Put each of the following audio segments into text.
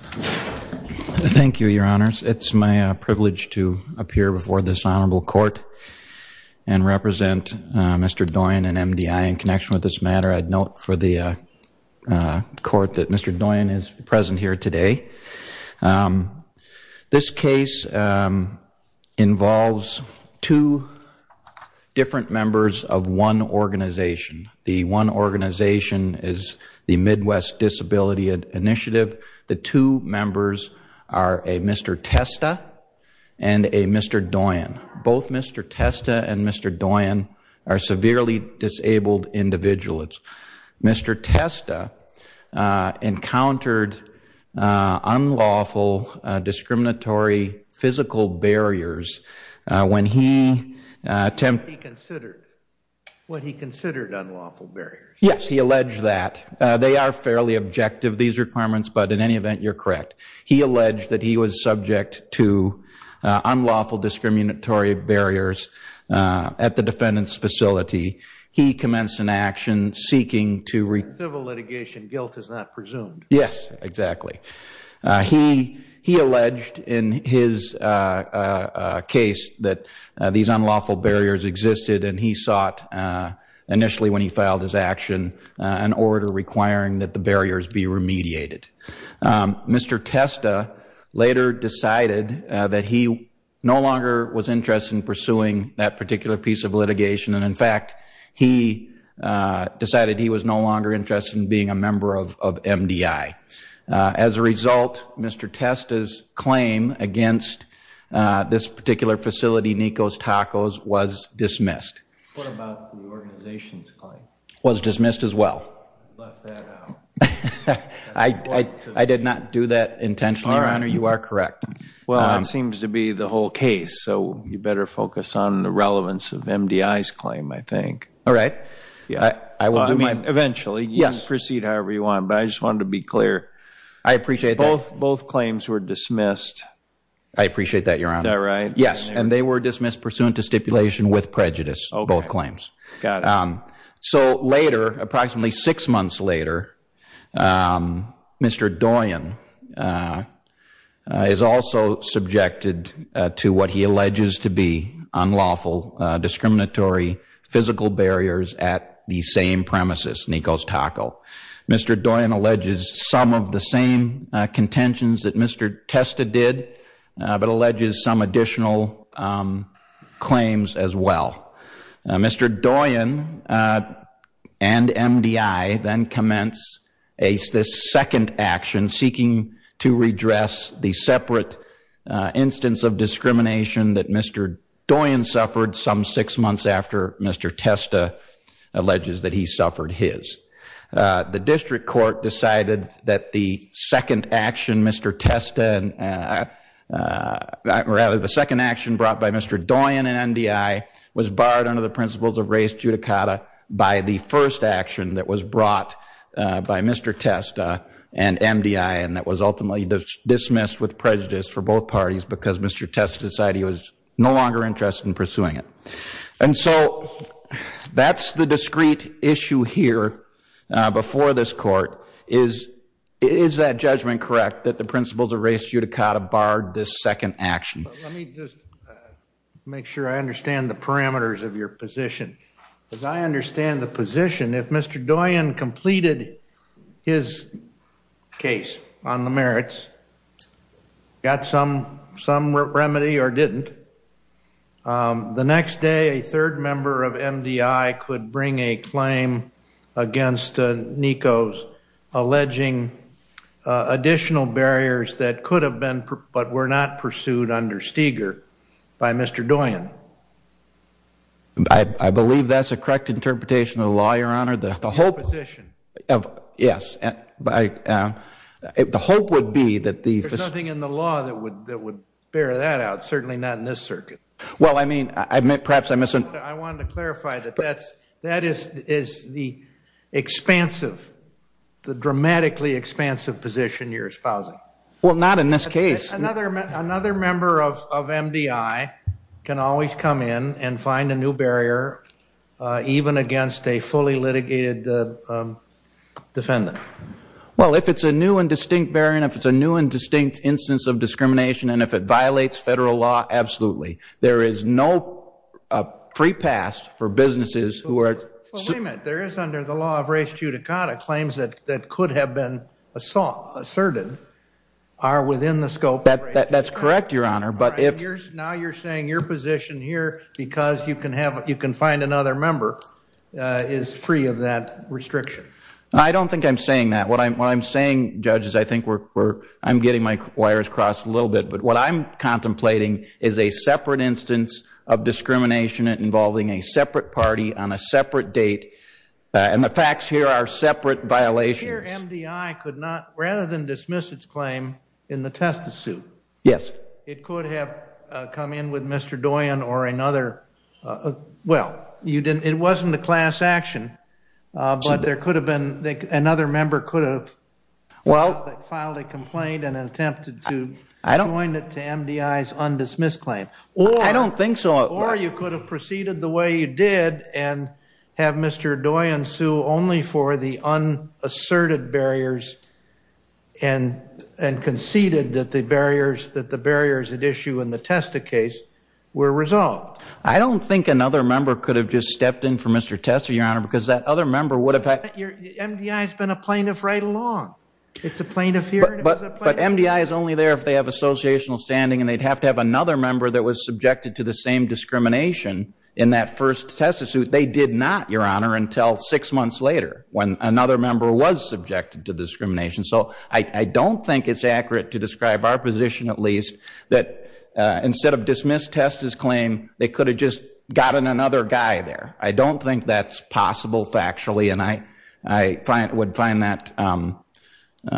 Thank you, Your Honors. It's my privilege to appear before this Honorable Court and represent Mr. Doyon and MDI in connection with this matter. I'd note for the Court that Mr. Doyon is present here today. This case involves two different members of one organization, the Midwest Disability Initiative. The two members are a Mr. Testa and a Mr. Doyon. Both Mr. Testa and Mr. Doyon are severely disabled individuals. Mr. Testa encountered unlawful discriminatory physical barriers when he attempted... What he considered unlawful barriers. Yes, he alleged that. They are fairly objective, these requirements, but in any event, you're correct. He alleged that he was subject to unlawful discriminatory barriers at the defendant's facility. He commenced an action seeking to... Civil litigation, guilt is not presumed. Yes, exactly. He alleged in his case that these unlawful barriers existed and he sought initially, when he filed his action, an order requiring that the barriers be remediated. Mr. Testa later decided that he no longer was interested in pursuing that particular piece of litigation and in fact, he decided he was no longer interested in being a member of MDI. As a result, Mr. Testa's claim against this particular facility, Nikos Tacos, was dismissed. What about the organization's claim? Was dismissed as well. Left that out. I did not do that intentionally, Your Honor. You are correct. Well, it seems to be the whole case, so you better focus on the relevance of MDI's claim, I think. All right. Eventually, you can proceed however you want, but I just wanted to be clear. I appreciate that. Both claims were dismissed. I appreciate that, Your Honor. Is that right? Yes, and they were dismissed pursuant to stipulation with prejudice, both claims. Got it. So later, approximately six months later, Mr. Doyen is also subjected to what he alleges to be unlawful discriminatory physical barriers at the same premises, Nikos Tacos. Mr. Doyen alleges some of the same contentions that Mr. Testa did, but alleges some additional claims as well. Mr. Doyen and MDI then commence this second action seeking to redress the separate instance of discrimination that Mr. Doyen suffered some six months after Mr. Testa alleges that he suffered his. The district court decided that the second action Mr. Testa, rather the second action brought by Mr. Doyen and MDI was barred under the principles of res judicata by the first action that was brought by Mr. Testa and MDI and that was ultimately dismissed with prejudice for both parties because Mr. Testa decided he was no longer interested in pursuing it. And so that's the discrete issue here before this court. Is that judgment correct that the principles of res judicata barred this second action? Let me just make sure I understand the parameters of your position. As I understand the position, if Mr. Doyen completed his case on the merits, got some remedy or didn't, the next day a third member of MDI could bring a claim against Nikos alleging additional barriers that could have been but were not pursued under Steger by Mr. Doyen. I believe that's a correct interpretation of the law, Your Honor. Your position. Yes. The hope would be that the... There's nothing in the law that would bear that out, certainly not in this circuit. Well, I mean, perhaps I misunderstood. I wanted to clarify that that is the expansive, the dramatically expansive position you're espousing. Well, not in this case. Another member of MDI can always come in and find a new barrier even against a fully litigated defendant. Well, if it's a new and distinct barrier and if it's a new and distinct instance of discrimination and if it violates federal law, absolutely. There is no pre-pass for businesses who are... Wait a minute. There is under the law of res judicata claims that could have been asserted are within the scope of... That's correct, Your Honor, but if... Now you're saying your position here because you can find another member is free of that restriction. I don't think I'm saying that. What I'm saying, judges, I think we're... I'm getting my wires crossed a little bit, but what I'm contemplating is a separate instance of discrimination involving a separate party on a separate date, and the facts here are separate violations. Here MDI could not... Rather than dismiss its claim in the testis suit... Yes. It could have come in with Mr. Doyen or another... Well, it wasn't a class action, but there could have been... Another member could have filed a complaint and attempted to join it to MDI's undismissed claim. I don't think so. Or you could have proceeded the way you did and have Mr. Doyen sue only for the unasserted barriers and conceded that the barriers at issue in the testis case were resolved. I don't think another member could have just stepped in for Mr. Testa, Your Honor, because that other member would have... MDI has been a plaintiff right along. It's a plaintiff here and it was a plaintiff... But MDI is only there if they have associational standing, and they'd have to have another member that was subjected to the same discrimination in that first testis suit. They did not, Your Honor, until six months later when another member was subjected to discrimination. So I don't think it's accurate to describe our position, at least, that instead of dismissed testis claim, they could have just gotten another guy there. I don't think that's possible factually, and I would find that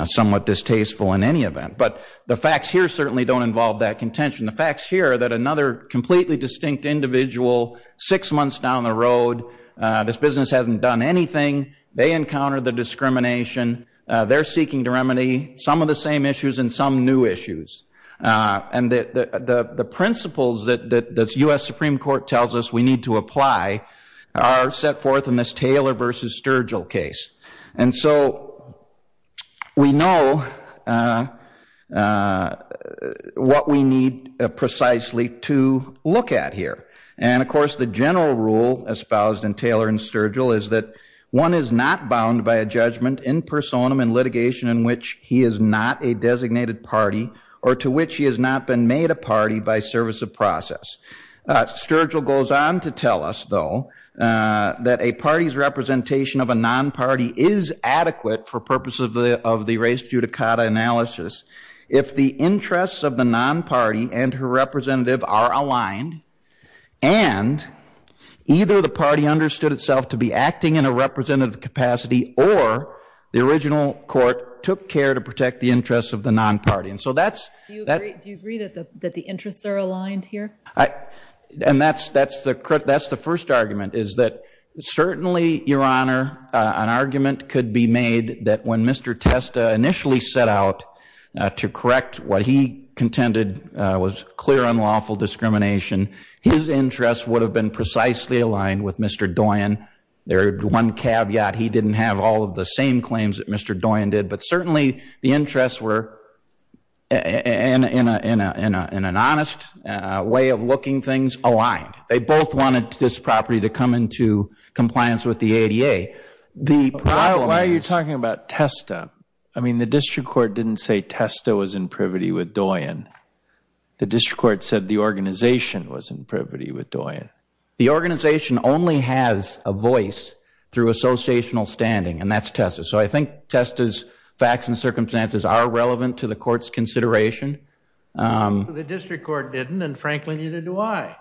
somewhat distasteful in any event. But the facts here certainly don't involve that contention. The facts here are that another completely distinct individual, six months down the road, this business hasn't done anything, they encountered the discrimination, they're seeking to remedy some of the same issues and some new issues. And the principles that the U.S. Supreme Court tells us we need to apply are set forth in this Taylor v. Sturgill case. And so we know what we need precisely to look at here. And, of course, the general rule espoused in Taylor v. Sturgill is that one is not bound by a judgment in personam in litigation in which he is not a designated party or to which he has not been made a party by service of process. Sturgill goes on to tell us, though, that a party's representation of a non-party is adequate for purposes of the race judicata analysis if the interests of the non-party and her representative are aligned and either the party understood itself to be acting in a representative capacity or the original court took care to protect the interests of the non-party. Do you agree that the interests are aligned here? And that's the first argument, is that certainly, Your Honor, an argument could be made that when Mr. Testa initially set out to correct what he contended was clear unlawful discrimination, his interests would have been precisely aligned with Mr. Doyon. There's one caveat. He didn't have all of the same claims that Mr. Doyon did. But certainly the interests were, in an honest way of looking, things aligned. They both wanted this property to come into compliance with the ADA. Why are you talking about Testa? I mean, the district court didn't say Testa was in privity with Doyon. The district court said the organization was in privity with Doyon. The organization only has a voice through associational standing, and that's Testa. So I think Testa's facts and circumstances are relevant to the court's consideration. The district court didn't, and frankly neither do I.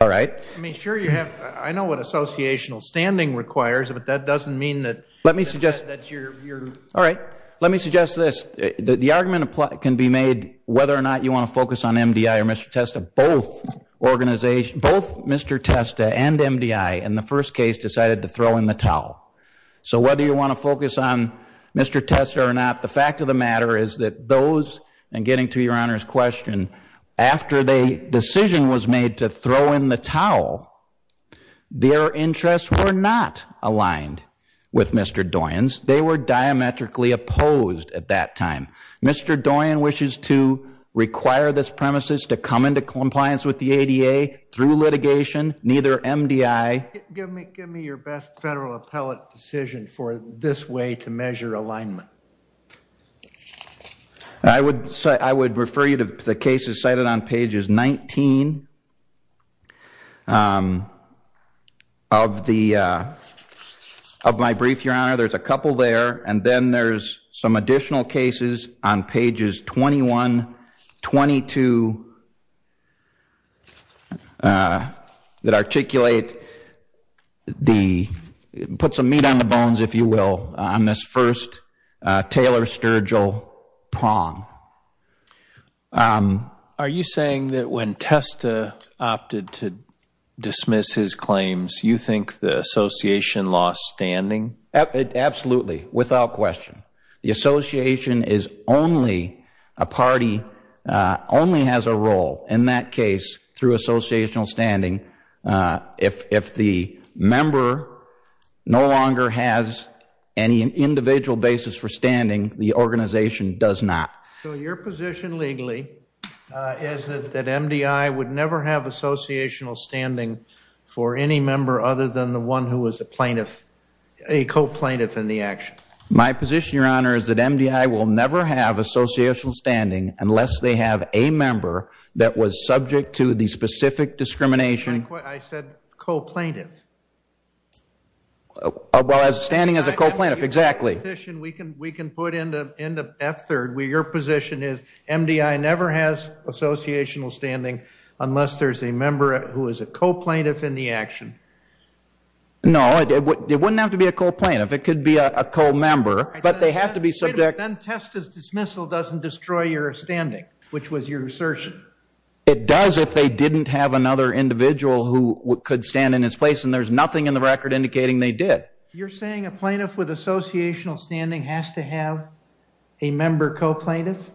All right. I mean, sure you have, I know what associational standing requires, but that doesn't mean that that's your view. All right. Let me suggest this. The argument can be made whether or not you want to focus on MDI or Mr. Testa. Both Mr. Testa and MDI in the first case decided to throw in the towel. So whether you want to focus on Mr. Testa or not, the fact of the matter is that those, and getting to Your Honor's question, after the decision was made to throw in the towel, their interests were not aligned with Mr. Doyon's. They were diametrically opposed at that time. Mr. Doyon wishes to require this premises to come into compliance with the ADA through litigation, neither MDI. Give me your best federal appellate decision for this way to measure alignment. I would refer you to the cases cited on pages 19 of my brief, Your Honor. There's a couple there, and then there's some additional cases on pages 21, 22 that articulate the, put some meat on the bones, if you will, on this first Taylor Sturgill prong. Are you saying that when Testa opted to dismiss his claims, you think the association lost standing? Absolutely, without question. The association is only, a party only has a role in that case through associational standing. If the member no longer has any individual basis for standing, the organization does not. So your position legally is that MDI would never have associational standing for any member other than the one who was a plaintiff, a co-plaintiff in the action? My position, Your Honor, is that MDI will never have associational standing unless they have a member that was subject to the specific discrimination. I said co-plaintiff. Well, standing as a co-plaintiff, exactly. We can put into F-3rd where your position is MDI never has associational standing unless there's a member who is a co-plaintiff in the action. No, it wouldn't have to be a co-plaintiff. It could be a co-member, but they have to be subject. Then Testa's dismissal doesn't destroy your standing, which was your assertion. It does if they didn't have another individual who could stand in his place and there's nothing in the record indicating they did. You're saying a plaintiff with associational standing has to have a member co-plaintiff?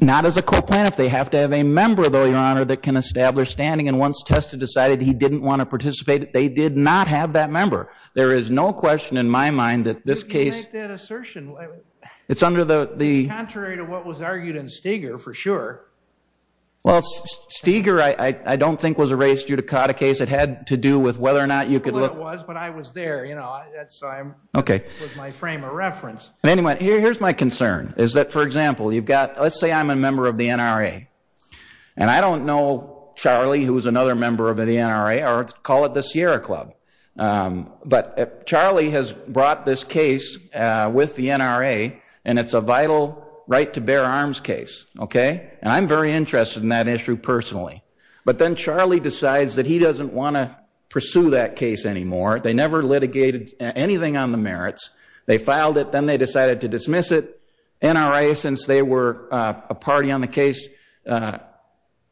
Not as a co-plaintiff. They have to have a member, though, Your Honor, that can establish standing, and once Testa decided he didn't want to participate, they did not have that member. There is no question in my mind that this case— You make that assertion. It's under the— It's contrary to what was argued in Steger, for sure. Well, Steger, I don't think, was erased due to Cotta case. It had to do with whether or not you could— Well, it was, but I was there, you know. That's why I'm— Okay. It was my frame of reference. Anyway, here's my concern, is that, for example, you've got—let's say I'm a member of the NRA, and I don't know Charlie, who's another member of the NRA, or call it the Sierra Club. But Charlie has brought this case with the NRA, and it's a vital right-to-bear-arms case, okay? And I'm very interested in that issue personally. But then Charlie decides that he doesn't want to pursue that case anymore. They filed it. Then they decided to dismiss it. NRA, since they were a party on the case,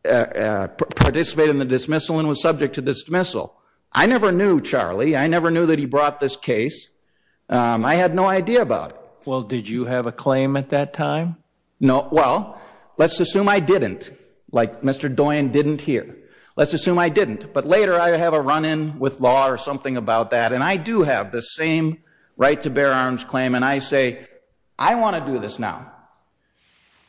participated in the dismissal and was subject to dismissal. I never knew Charlie. I never knew that he brought this case. I had no idea about it. Well, did you have a claim at that time? No. Well, let's assume I didn't, like Mr. Doyen didn't here. Let's assume I didn't. But later, I have a run-in with law or something about that, and I do have the same right-to-bear-arms claim. And I say, I want to do this now.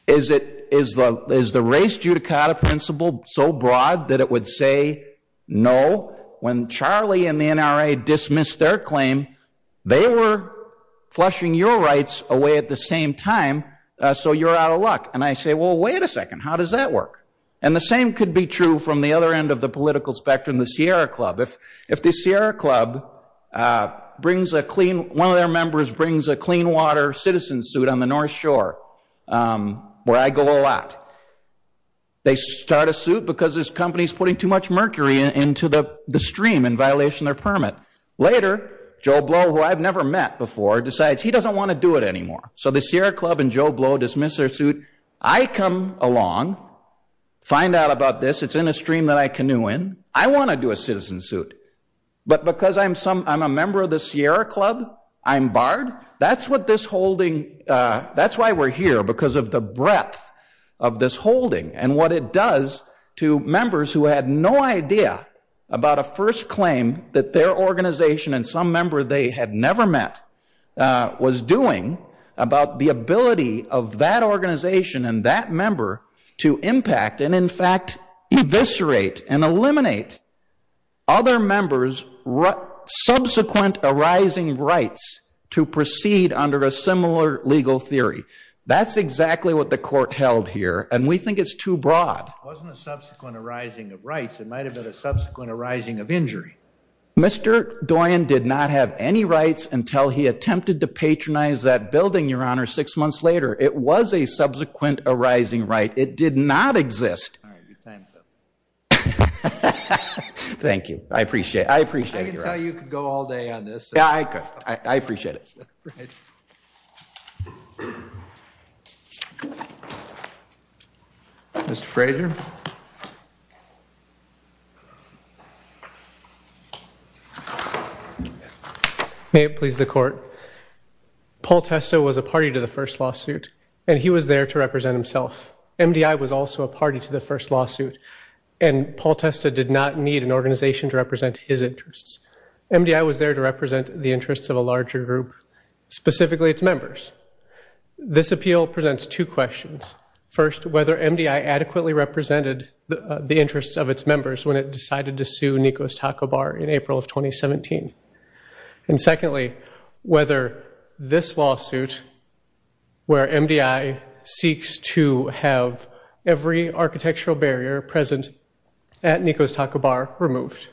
Is the race-judicata principle so broad that it would say no? When Charlie and the NRA dismissed their claim, they were flushing your rights away at the same time, so you're out of luck. And I say, well, wait a second. How does that work? And the same could be true from the other end of the political spectrum, the Sierra Club. If the Sierra Club brings a clean, one of their members brings a clean water citizen suit on the North Shore, where I go a lot, they start a suit because this company is putting too much mercury into the stream in violation of their permit. Later, Joe Blow, who I've never met before, decides he doesn't want to do it anymore. So the Sierra Club and Joe Blow dismiss their suit. I come along, find out about this. It's in a stream that I canoe in. I want to do a citizen suit. But because I'm a member of the Sierra Club, I'm barred? That's what this holding, that's why we're here, because of the breadth of this holding and what it does to members who had no idea about a first claim that their organization and some member they had never met was doing about the ability of that organization and that member to impact and, in fact, eviscerate and eliminate other members' subsequent arising rights to proceed under a similar legal theory. That's exactly what the court held here, and we think it's too broad. It wasn't a subsequent arising of rights. Mr. Doyen did not have any rights until he attempted to patronize that building, Your Honor, six months later. It was a subsequent arising right. It did not exist. All right, your time is up. Thank you. I appreciate it. I appreciate it, Your Honor. I can tell you could go all day on this. Yeah, I could. I appreciate it. All right. Mr. Frazier. May it please the Court. Paul Testa was a party to the first lawsuit, and he was there to represent himself. MDI was also a party to the first lawsuit, and Paul Testa did not need an organization to represent his interests. MDI was there to represent the interests of a larger group, specifically its members. This appeal presents two questions. First, whether MDI adequately represented the interests of its members when it decided to sue Nikos Taco Bar in April of 2017. And secondly, whether this lawsuit, where MDI seeks to have every architectural barrier present at Nikos Taco Bar removed,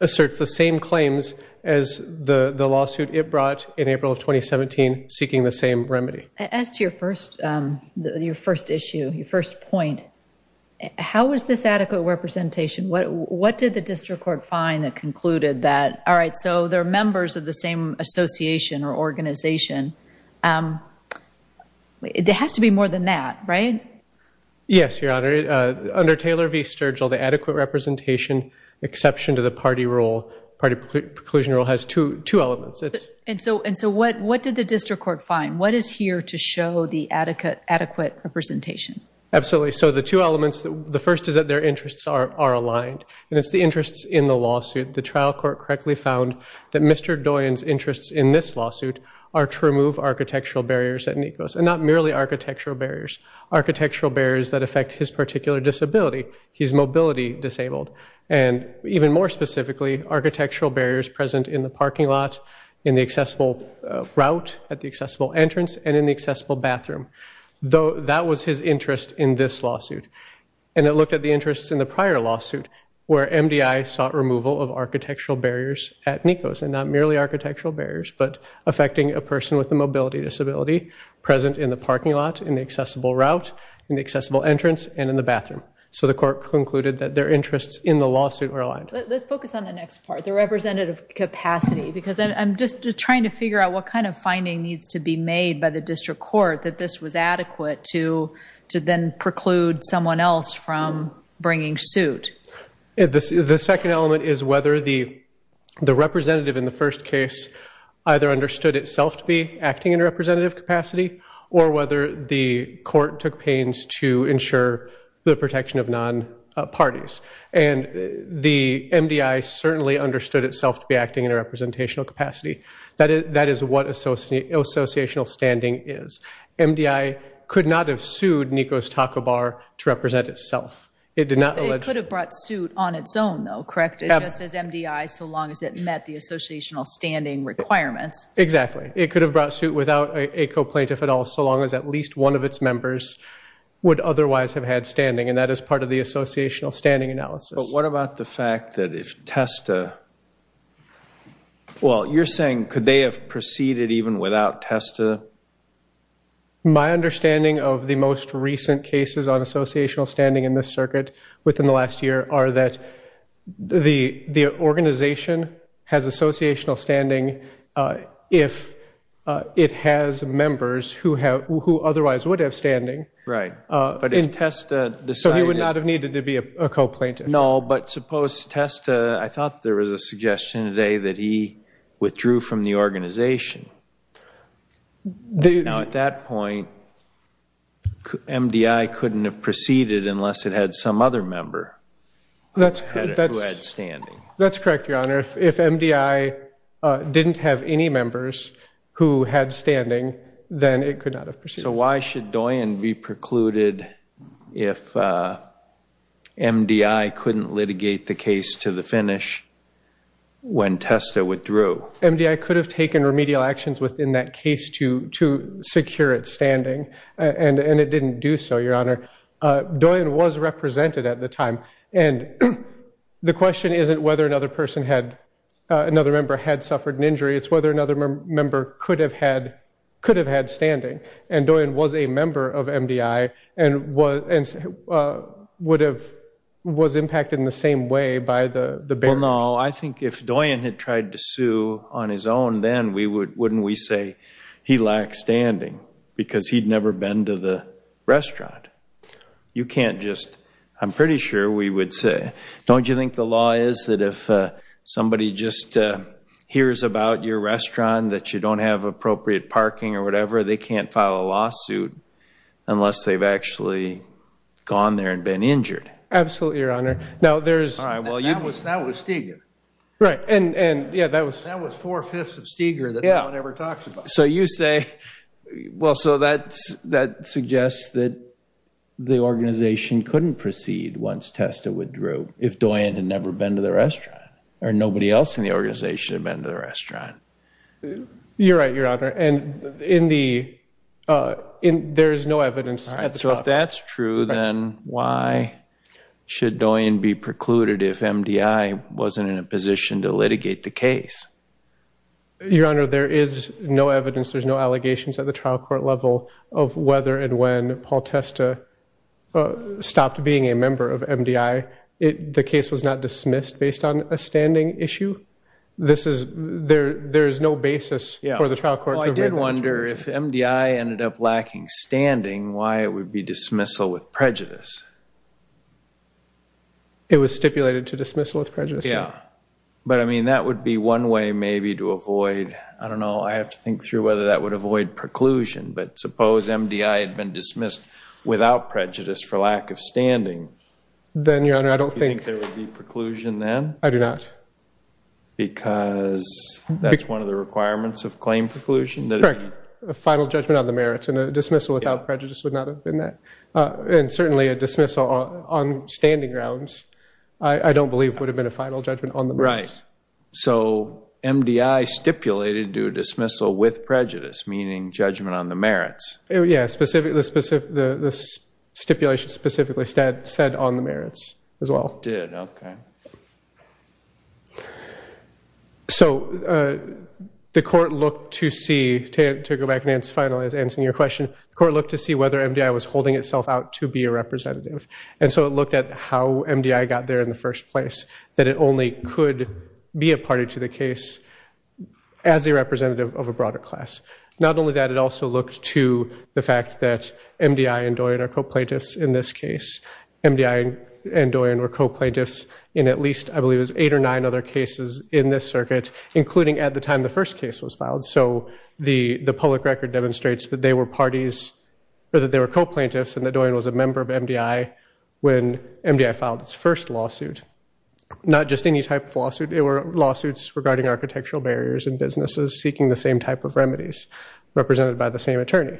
asserts the same claims as the lawsuit it brought in April of 2017, seeking the same remedy. As to your first issue, your first point, how was this adequate representation? What did the district court find that concluded that, all right, so they're members of the same association or organization? There has to be more than that, right? Yes, Your Honor. Under Taylor v. Sturgill, the adequate representation exception to the party preclusion rule has two elements. And so what did the district court find? What is here to show the adequate representation? Absolutely. So the two elements, the first is that their interests are aligned. And it's the interests in the lawsuit. The trial court correctly found that Mr. Doyen's interests in this lawsuit are to remove architectural barriers at Nikos, and not merely architectural barriers, architectural barriers that affect his particular disability. He's mobility disabled. And even more specifically, architectural barriers present in the parking lot, in the accessible route, at the accessible entrance, and in the accessible bathroom. That was his interest in this lawsuit. And it looked at the interests in the prior lawsuit, where MDI sought removal of architectural barriers at Nikos, and not merely architectural barriers, but affecting a person with a mobility disability present in the parking lot, in the accessible route, in the accessible entrance, and in the bathroom. So the court concluded that their interests in the lawsuit were aligned. Let's focus on the next part, the representative capacity, because I'm just trying to figure out what kind of finding needs to be made by the district court that this was adequate to then preclude someone else from bringing suit. The second element is whether the representative in the first case either understood itself to be acting in a representative capacity, or whether the court took pains to ensure the protection of non-parties. And the MDI certainly understood itself to be acting in a representational capacity. That is what associational standing is. MDI could not have sued Nikos Taco Bar to represent itself. It could have brought suit on its own, though, correct? Just as MDI, so long as it met the associational standing requirements. Exactly. It could have brought suit without a co-plaintiff at all, so long as at least one of its members would otherwise have had standing. And that is part of the associational standing analysis. But what about the fact that if TESTA, well, you're saying could they have proceeded even without TESTA? My understanding of the most recent cases on associational standing in this circuit within the last year are that the organization has associational standing if it has members who otherwise would have standing. Right. So he would not have needed to be a co-plaintiff. No, but suppose TESTA, I thought there was a suggestion today that he withdrew from the organization. Now, at that point, MDI couldn't have proceeded unless it had some other member who had standing. That's correct, Your Honor. If MDI didn't have any members who had standing, then it could not have proceeded. So why should Doyin be precluded if MDI couldn't litigate the case to the finish when TESTA withdrew? MDI could have taken remedial actions within that case to secure its standing, and it didn't do so, Your Honor. Doyin was represented at the time. And the question isn't whether another member had suffered an injury. It's whether another member could have had standing. And Doyin was a member of MDI and was impacted in the same way by the bearers. Well, no, I think if Doyin had tried to sue on his own, then wouldn't we say he lacked standing because he'd never been to the restaurant? You can't just, I'm pretty sure we would say. Don't you think the law is that if somebody just hears about your restaurant, that you don't have appropriate parking or whatever, they can't file a lawsuit unless they've actually gone there and been injured? Absolutely, Your Honor. That was Steger. Right. That was four-fifths of Steger that no one ever talks about. So you say, well, so that suggests that the organization couldn't proceed once TESTA withdrew if Doyin had never been to the restaurant, or nobody else in the organization had been to the restaurant. You're right, Your Honor. And there is no evidence at the trial court. So if that's true, then why should Doyin be precluded if MDI wasn't in a position to litigate the case? Your Honor, there is no evidence, there's no allegations at the trial court level of whether and when Paul TESTA stopped being a member of MDI. The case was not dismissed based on a standing issue. There is no basis for the trial court to admit that. Well, I did wonder if MDI ended up lacking standing, why it would be dismissal with prejudice. It was stipulated to dismissal with prejudice. Yeah. But, I mean, that would be one way maybe to avoid, I don't know, I have to think through whether that would avoid preclusion. But suppose MDI had been dismissed without prejudice for lack of standing. Then, Your Honor, I don't think- Do you think there would be preclusion then? I do not. Because that's one of the requirements of claim preclusion? Correct. A final judgment on the merits, and a dismissal without prejudice would not have been that. And certainly a dismissal on standing grounds I don't believe would have been a final judgment on the merits. Right. So MDI stipulated due dismissal with prejudice, meaning judgment on the merits. Yeah, the stipulation specifically said on the merits as well. It did, okay. So the court looked to see, to go back and answer your question, the court looked to see whether MDI was holding itself out to be a representative. And so it looked at how MDI got there in the first place, that it only could be a party to the case as a representative of a broader class. Not only that, it also looked to the fact that MDI and Doyon are co-plaintiffs in this case. MDI and Doyon were co-plaintiffs in at least, I believe it was eight or nine other cases in this circuit, So the public record demonstrates that they were parties, or that they were co-plaintiffs, and that Doyon was a member of MDI when MDI filed its first lawsuit. Not just any type of lawsuit, they were lawsuits regarding architectural barriers and businesses seeking the same type of remedies, represented by the same attorney.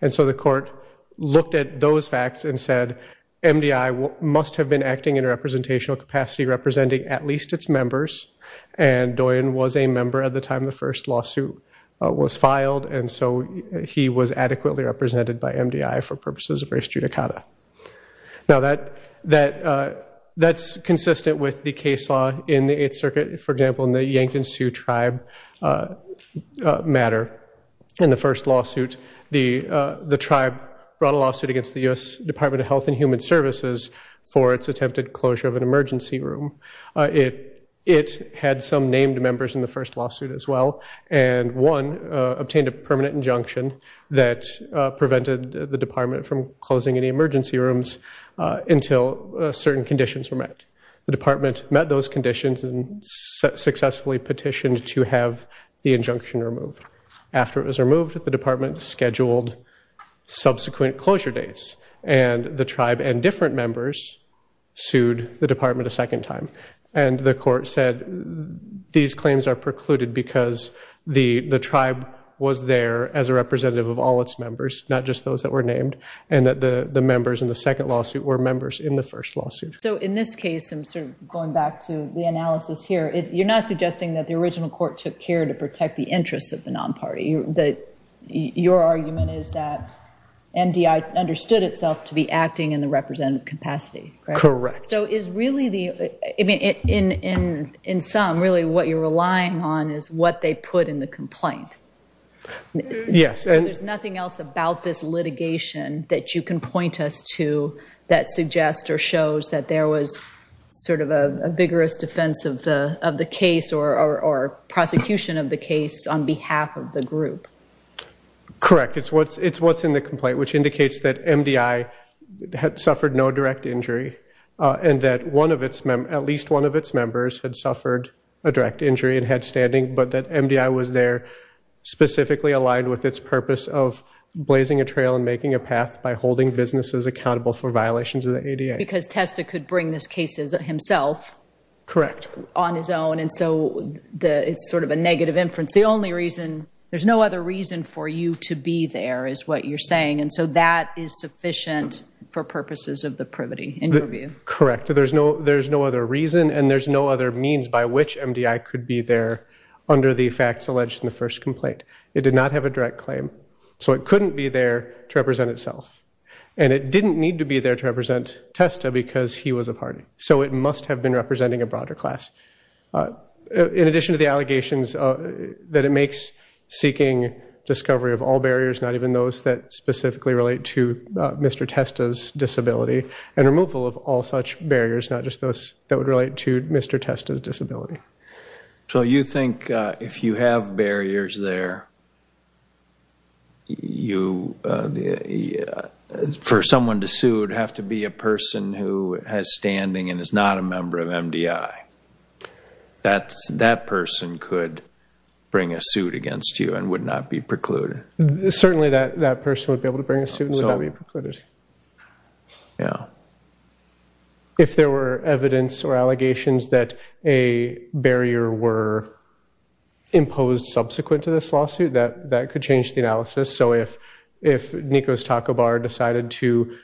And so the court looked at those facts and said, MDI must have been acting in a representational capacity representing at least its members, and Doyon was a member at the time the first lawsuit was filed, and so he was adequately represented by MDI for purposes of race judicata. Now that's consistent with the case law in the Eighth Circuit. For example, in the Yankton Sioux tribe matter, in the first lawsuit, the tribe brought a lawsuit against the U.S. Department of Health and Human Services for its attempted closure of an emergency room. It had some named members in the first lawsuit as well, and one obtained a permanent injunction that prevented the department from closing any emergency rooms until certain conditions were met. The department met those conditions and successfully petitioned to have the injunction removed. After it was removed, the department scheduled subsequent closure dates, and the tribe and different members sued the department a second time. And the court said these claims are precluded because the tribe was there as a representative of all its members, not just those that were named, and that the members in the second lawsuit were members in the first lawsuit. So in this case, going back to the analysis here, you're not suggesting that the original court took care to protect the interests of the non-party. Your argument is that MDI understood itself to be acting in the representative capacity, correct? Correct. So in sum, really what you're relying on is what they put in the complaint. Yes. So there's nothing else about this litigation that you can point us to that suggests or shows that there was sort of a vigorous defense of the case or prosecution of the case on behalf of the group. Correct. It's what's in the complaint, which indicates that MDI had suffered no direct injury and that at least one of its members had suffered a direct injury and had standing, but that MDI was there specifically aligned with its purpose of blazing a trail and making a path by holding businesses accountable for violations of the ADA. Because Testa could bring this case himself. Correct. But on his own, and so it's sort of a negative inference. The only reason, there's no other reason for you to be there is what you're saying, and so that is sufficient for purposes of the privity in your view. Correct. There's no other reason and there's no other means by which MDI could be there under the facts alleged in the first complaint. It did not have a direct claim, so it couldn't be there to represent itself, and it didn't need to be there to represent Testa because he was a party. So it must have been representing a broader class. In addition to the allegations that it makes seeking discovery of all barriers, not even those that specifically relate to Mr. Testa's disability, and removal of all such barriers, not just those that would relate to Mr. Testa's disability. So you think if you have barriers there, for someone to sue would have to be a person who has standing and is not a member of MDI. That person could bring a suit against you and would not be precluded. Certainly that person would be able to bring a suit and would not be precluded. Yeah. If there were evidence or allegations that a barrier were imposed subsequent to this lawsuit, that could change the analysis. So if Nico's Taco Bar decided to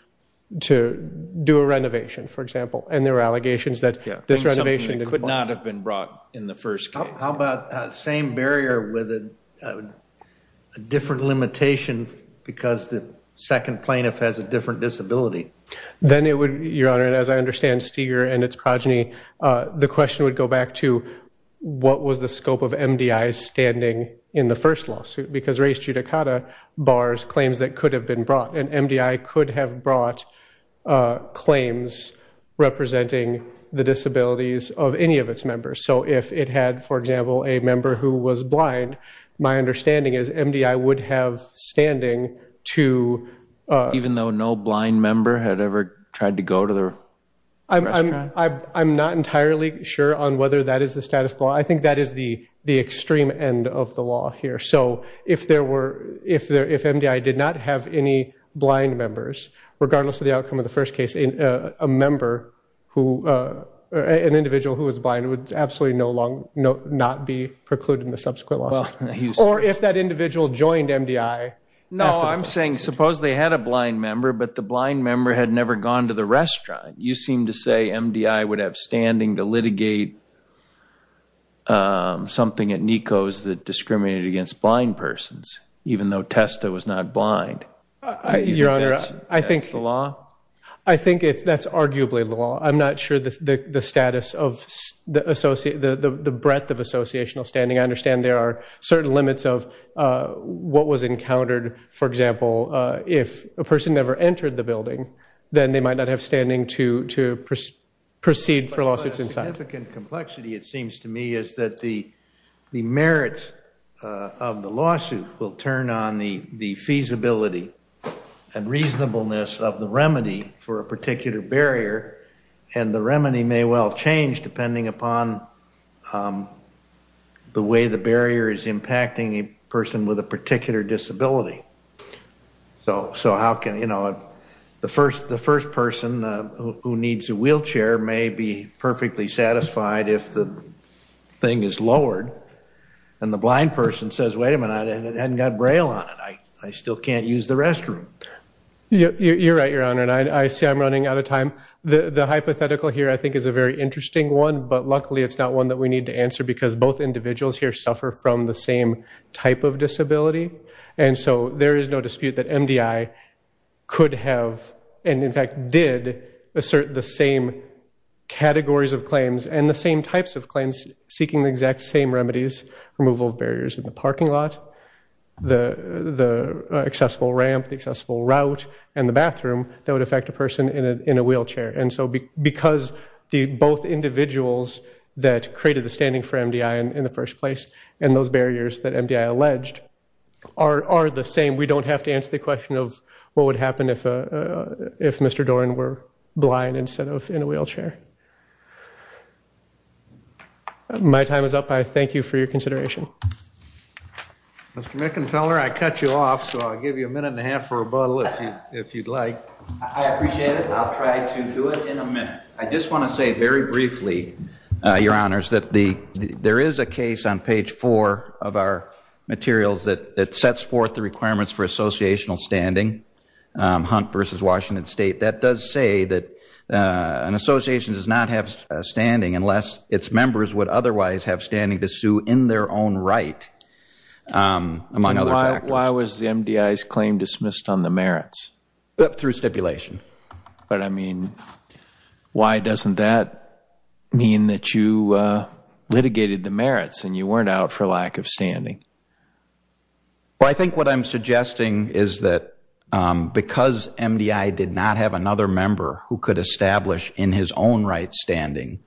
do a renovation, for example, and there were allegations that this renovation could not have been brought in the first case. How about the same barrier with a different limitation because the second plaintiff has a different disability? Then it would, Your Honor, as I understand Steger and its progeny, the question would go back to what was the scope of MDI's standing in the first lawsuit? Because Reis Judicata bars claims that could have been brought, and MDI could have brought claims representing the disabilities of any of its members. So if it had, for example, a member who was blind, my understanding is MDI would have standing to. Even though no blind member had ever tried to go to the restaurant? I'm not entirely sure on whether that is the status quo. I think that is the extreme end of the law here. So if MDI did not have any blind members, regardless of the outcome of the first case, an individual who was blind would absolutely not be precluded in the subsequent lawsuit. Or if that individual joined MDI. No, I'm saying suppose they had a blind member, but the blind member had never gone to the restaurant. You seem to say MDI would have standing to litigate something at NECO that discriminated against blind persons, even though Testa was not blind. Your Honor, I think it's the law. I think that's arguably the law. I'm not sure the status of the breadth of associational standing. I understand there are certain limits of what was encountered. For example, if a person never entered the building, then they might not have standing to proceed for lawsuits inside. But a significant complexity, it seems to me, is that the merits of the lawsuit will turn on the feasibility and reasonableness of the remedy for a particular barrier. And the remedy may well change, depending upon the way the barrier is impacting a person with a particular disability. So how can, you know, the first person who needs a wheelchair may be perfectly satisfied if the thing is lowered, and the blind person says, wait a minute, it hasn't got Braille on it. I still can't use the restroom. You're right, Your Honor, and I see I'm running out of time. The hypothetical here I think is a very interesting one, but luckily it's not one that we need to answer because both individuals here suffer from the same type of disability. And so there is no dispute that MDI could have, and in fact did, assert the same categories of claims and the same types of claims seeking the exact same remedies, removal of barriers in the parking lot, the accessible ramp, the accessible route, and the bathroom that would affect a person in a wheelchair. And so because both individuals that created the standing for MDI in the first place and those barriers that MDI alleged are the same, we don't have to answer the question of what would happen if Mr. Doran were blind instead of in a wheelchair. My time is up. I thank you for your consideration. Mr. McInfeller, I cut you off, so I'll give you a minute and a half for rebuttal if you'd like. I appreciate it. I'll try to do it in a minute. I just want to say very briefly, Your Honors, that there is a case on Page 4 of our materials that sets forth the requirements for associational standing, Hunt v. Washington State, that does say that an association does not have standing unless its members would otherwise have standing to sue in their own right, among other factors. Why was the MDI's claim dismissed on the merits? Through stipulation. But, I mean, why doesn't that mean that you litigated the merits and you weren't out for lack of standing? I think what I'm suggesting is that because MDI did not have another member who could establish in his own right standing,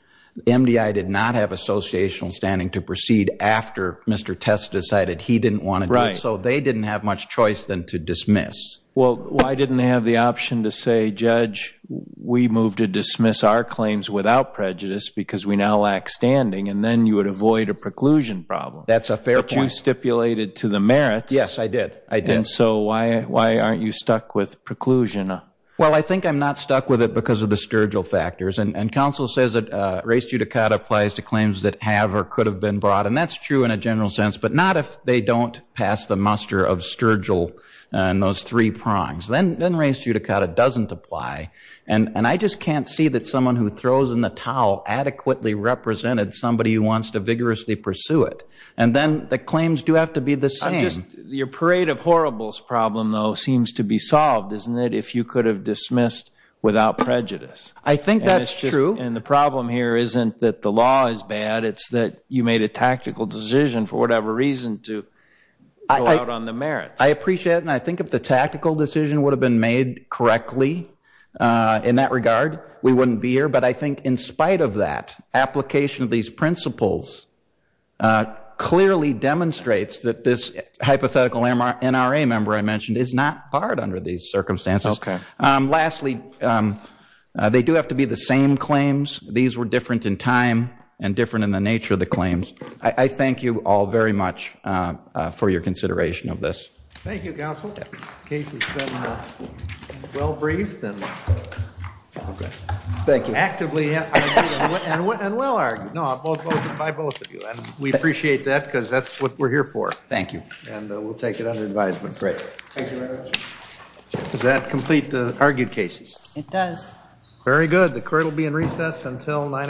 MDI did not have associational standing to proceed after Mr. Testa decided he didn't want to do it, so they didn't have much choice than to dismiss. Well, why didn't they have the option to say, Judge, we move to dismiss our claims without prejudice because we now lack standing, and then you would avoid a preclusion problem? That's a fair point. But you stipulated to the merits. Yes, I did. And so why aren't you stuck with preclusion? Well, I think I'm not stuck with it because of the Sturgill factors. And counsel says that res judicata applies to claims that have or could have been brought, and that's true in a general sense, but not if they don't pass the muster of Sturgill and those three prongs. Then res judicata doesn't apply. And I just can't see that someone who throws in the towel adequately represented somebody who wants to vigorously pursue it. And then the claims do have to be the same. Your parade of horribles problem, though, seems to be solved, isn't it, if you could have dismissed without prejudice? I think that's true. And the problem here isn't that the law is bad, it's that you made a tactical decision for whatever reason to go out on the merits. I appreciate it, and I think if the tactical decision would have been made correctly in that regard, we wouldn't be here. But I think in spite of that, application of these principles clearly demonstrates that this hypothetical NRA member I mentioned is not barred under these circumstances. Okay. Lastly, they do have to be the same claims. These were different in time and different in the nature of the claims. I thank you all very much for your consideration of this. Thank you, Counsel. The case has been well briefed and actively argued and will argue. No, by both of you. And we appreciate that because that's what we're here for. Thank you. And we'll take it under advisement. Great. Thank you very much. Does that complete the argued cases? It does. Very good. The court will be in recess until 9 o'clock tomorrow.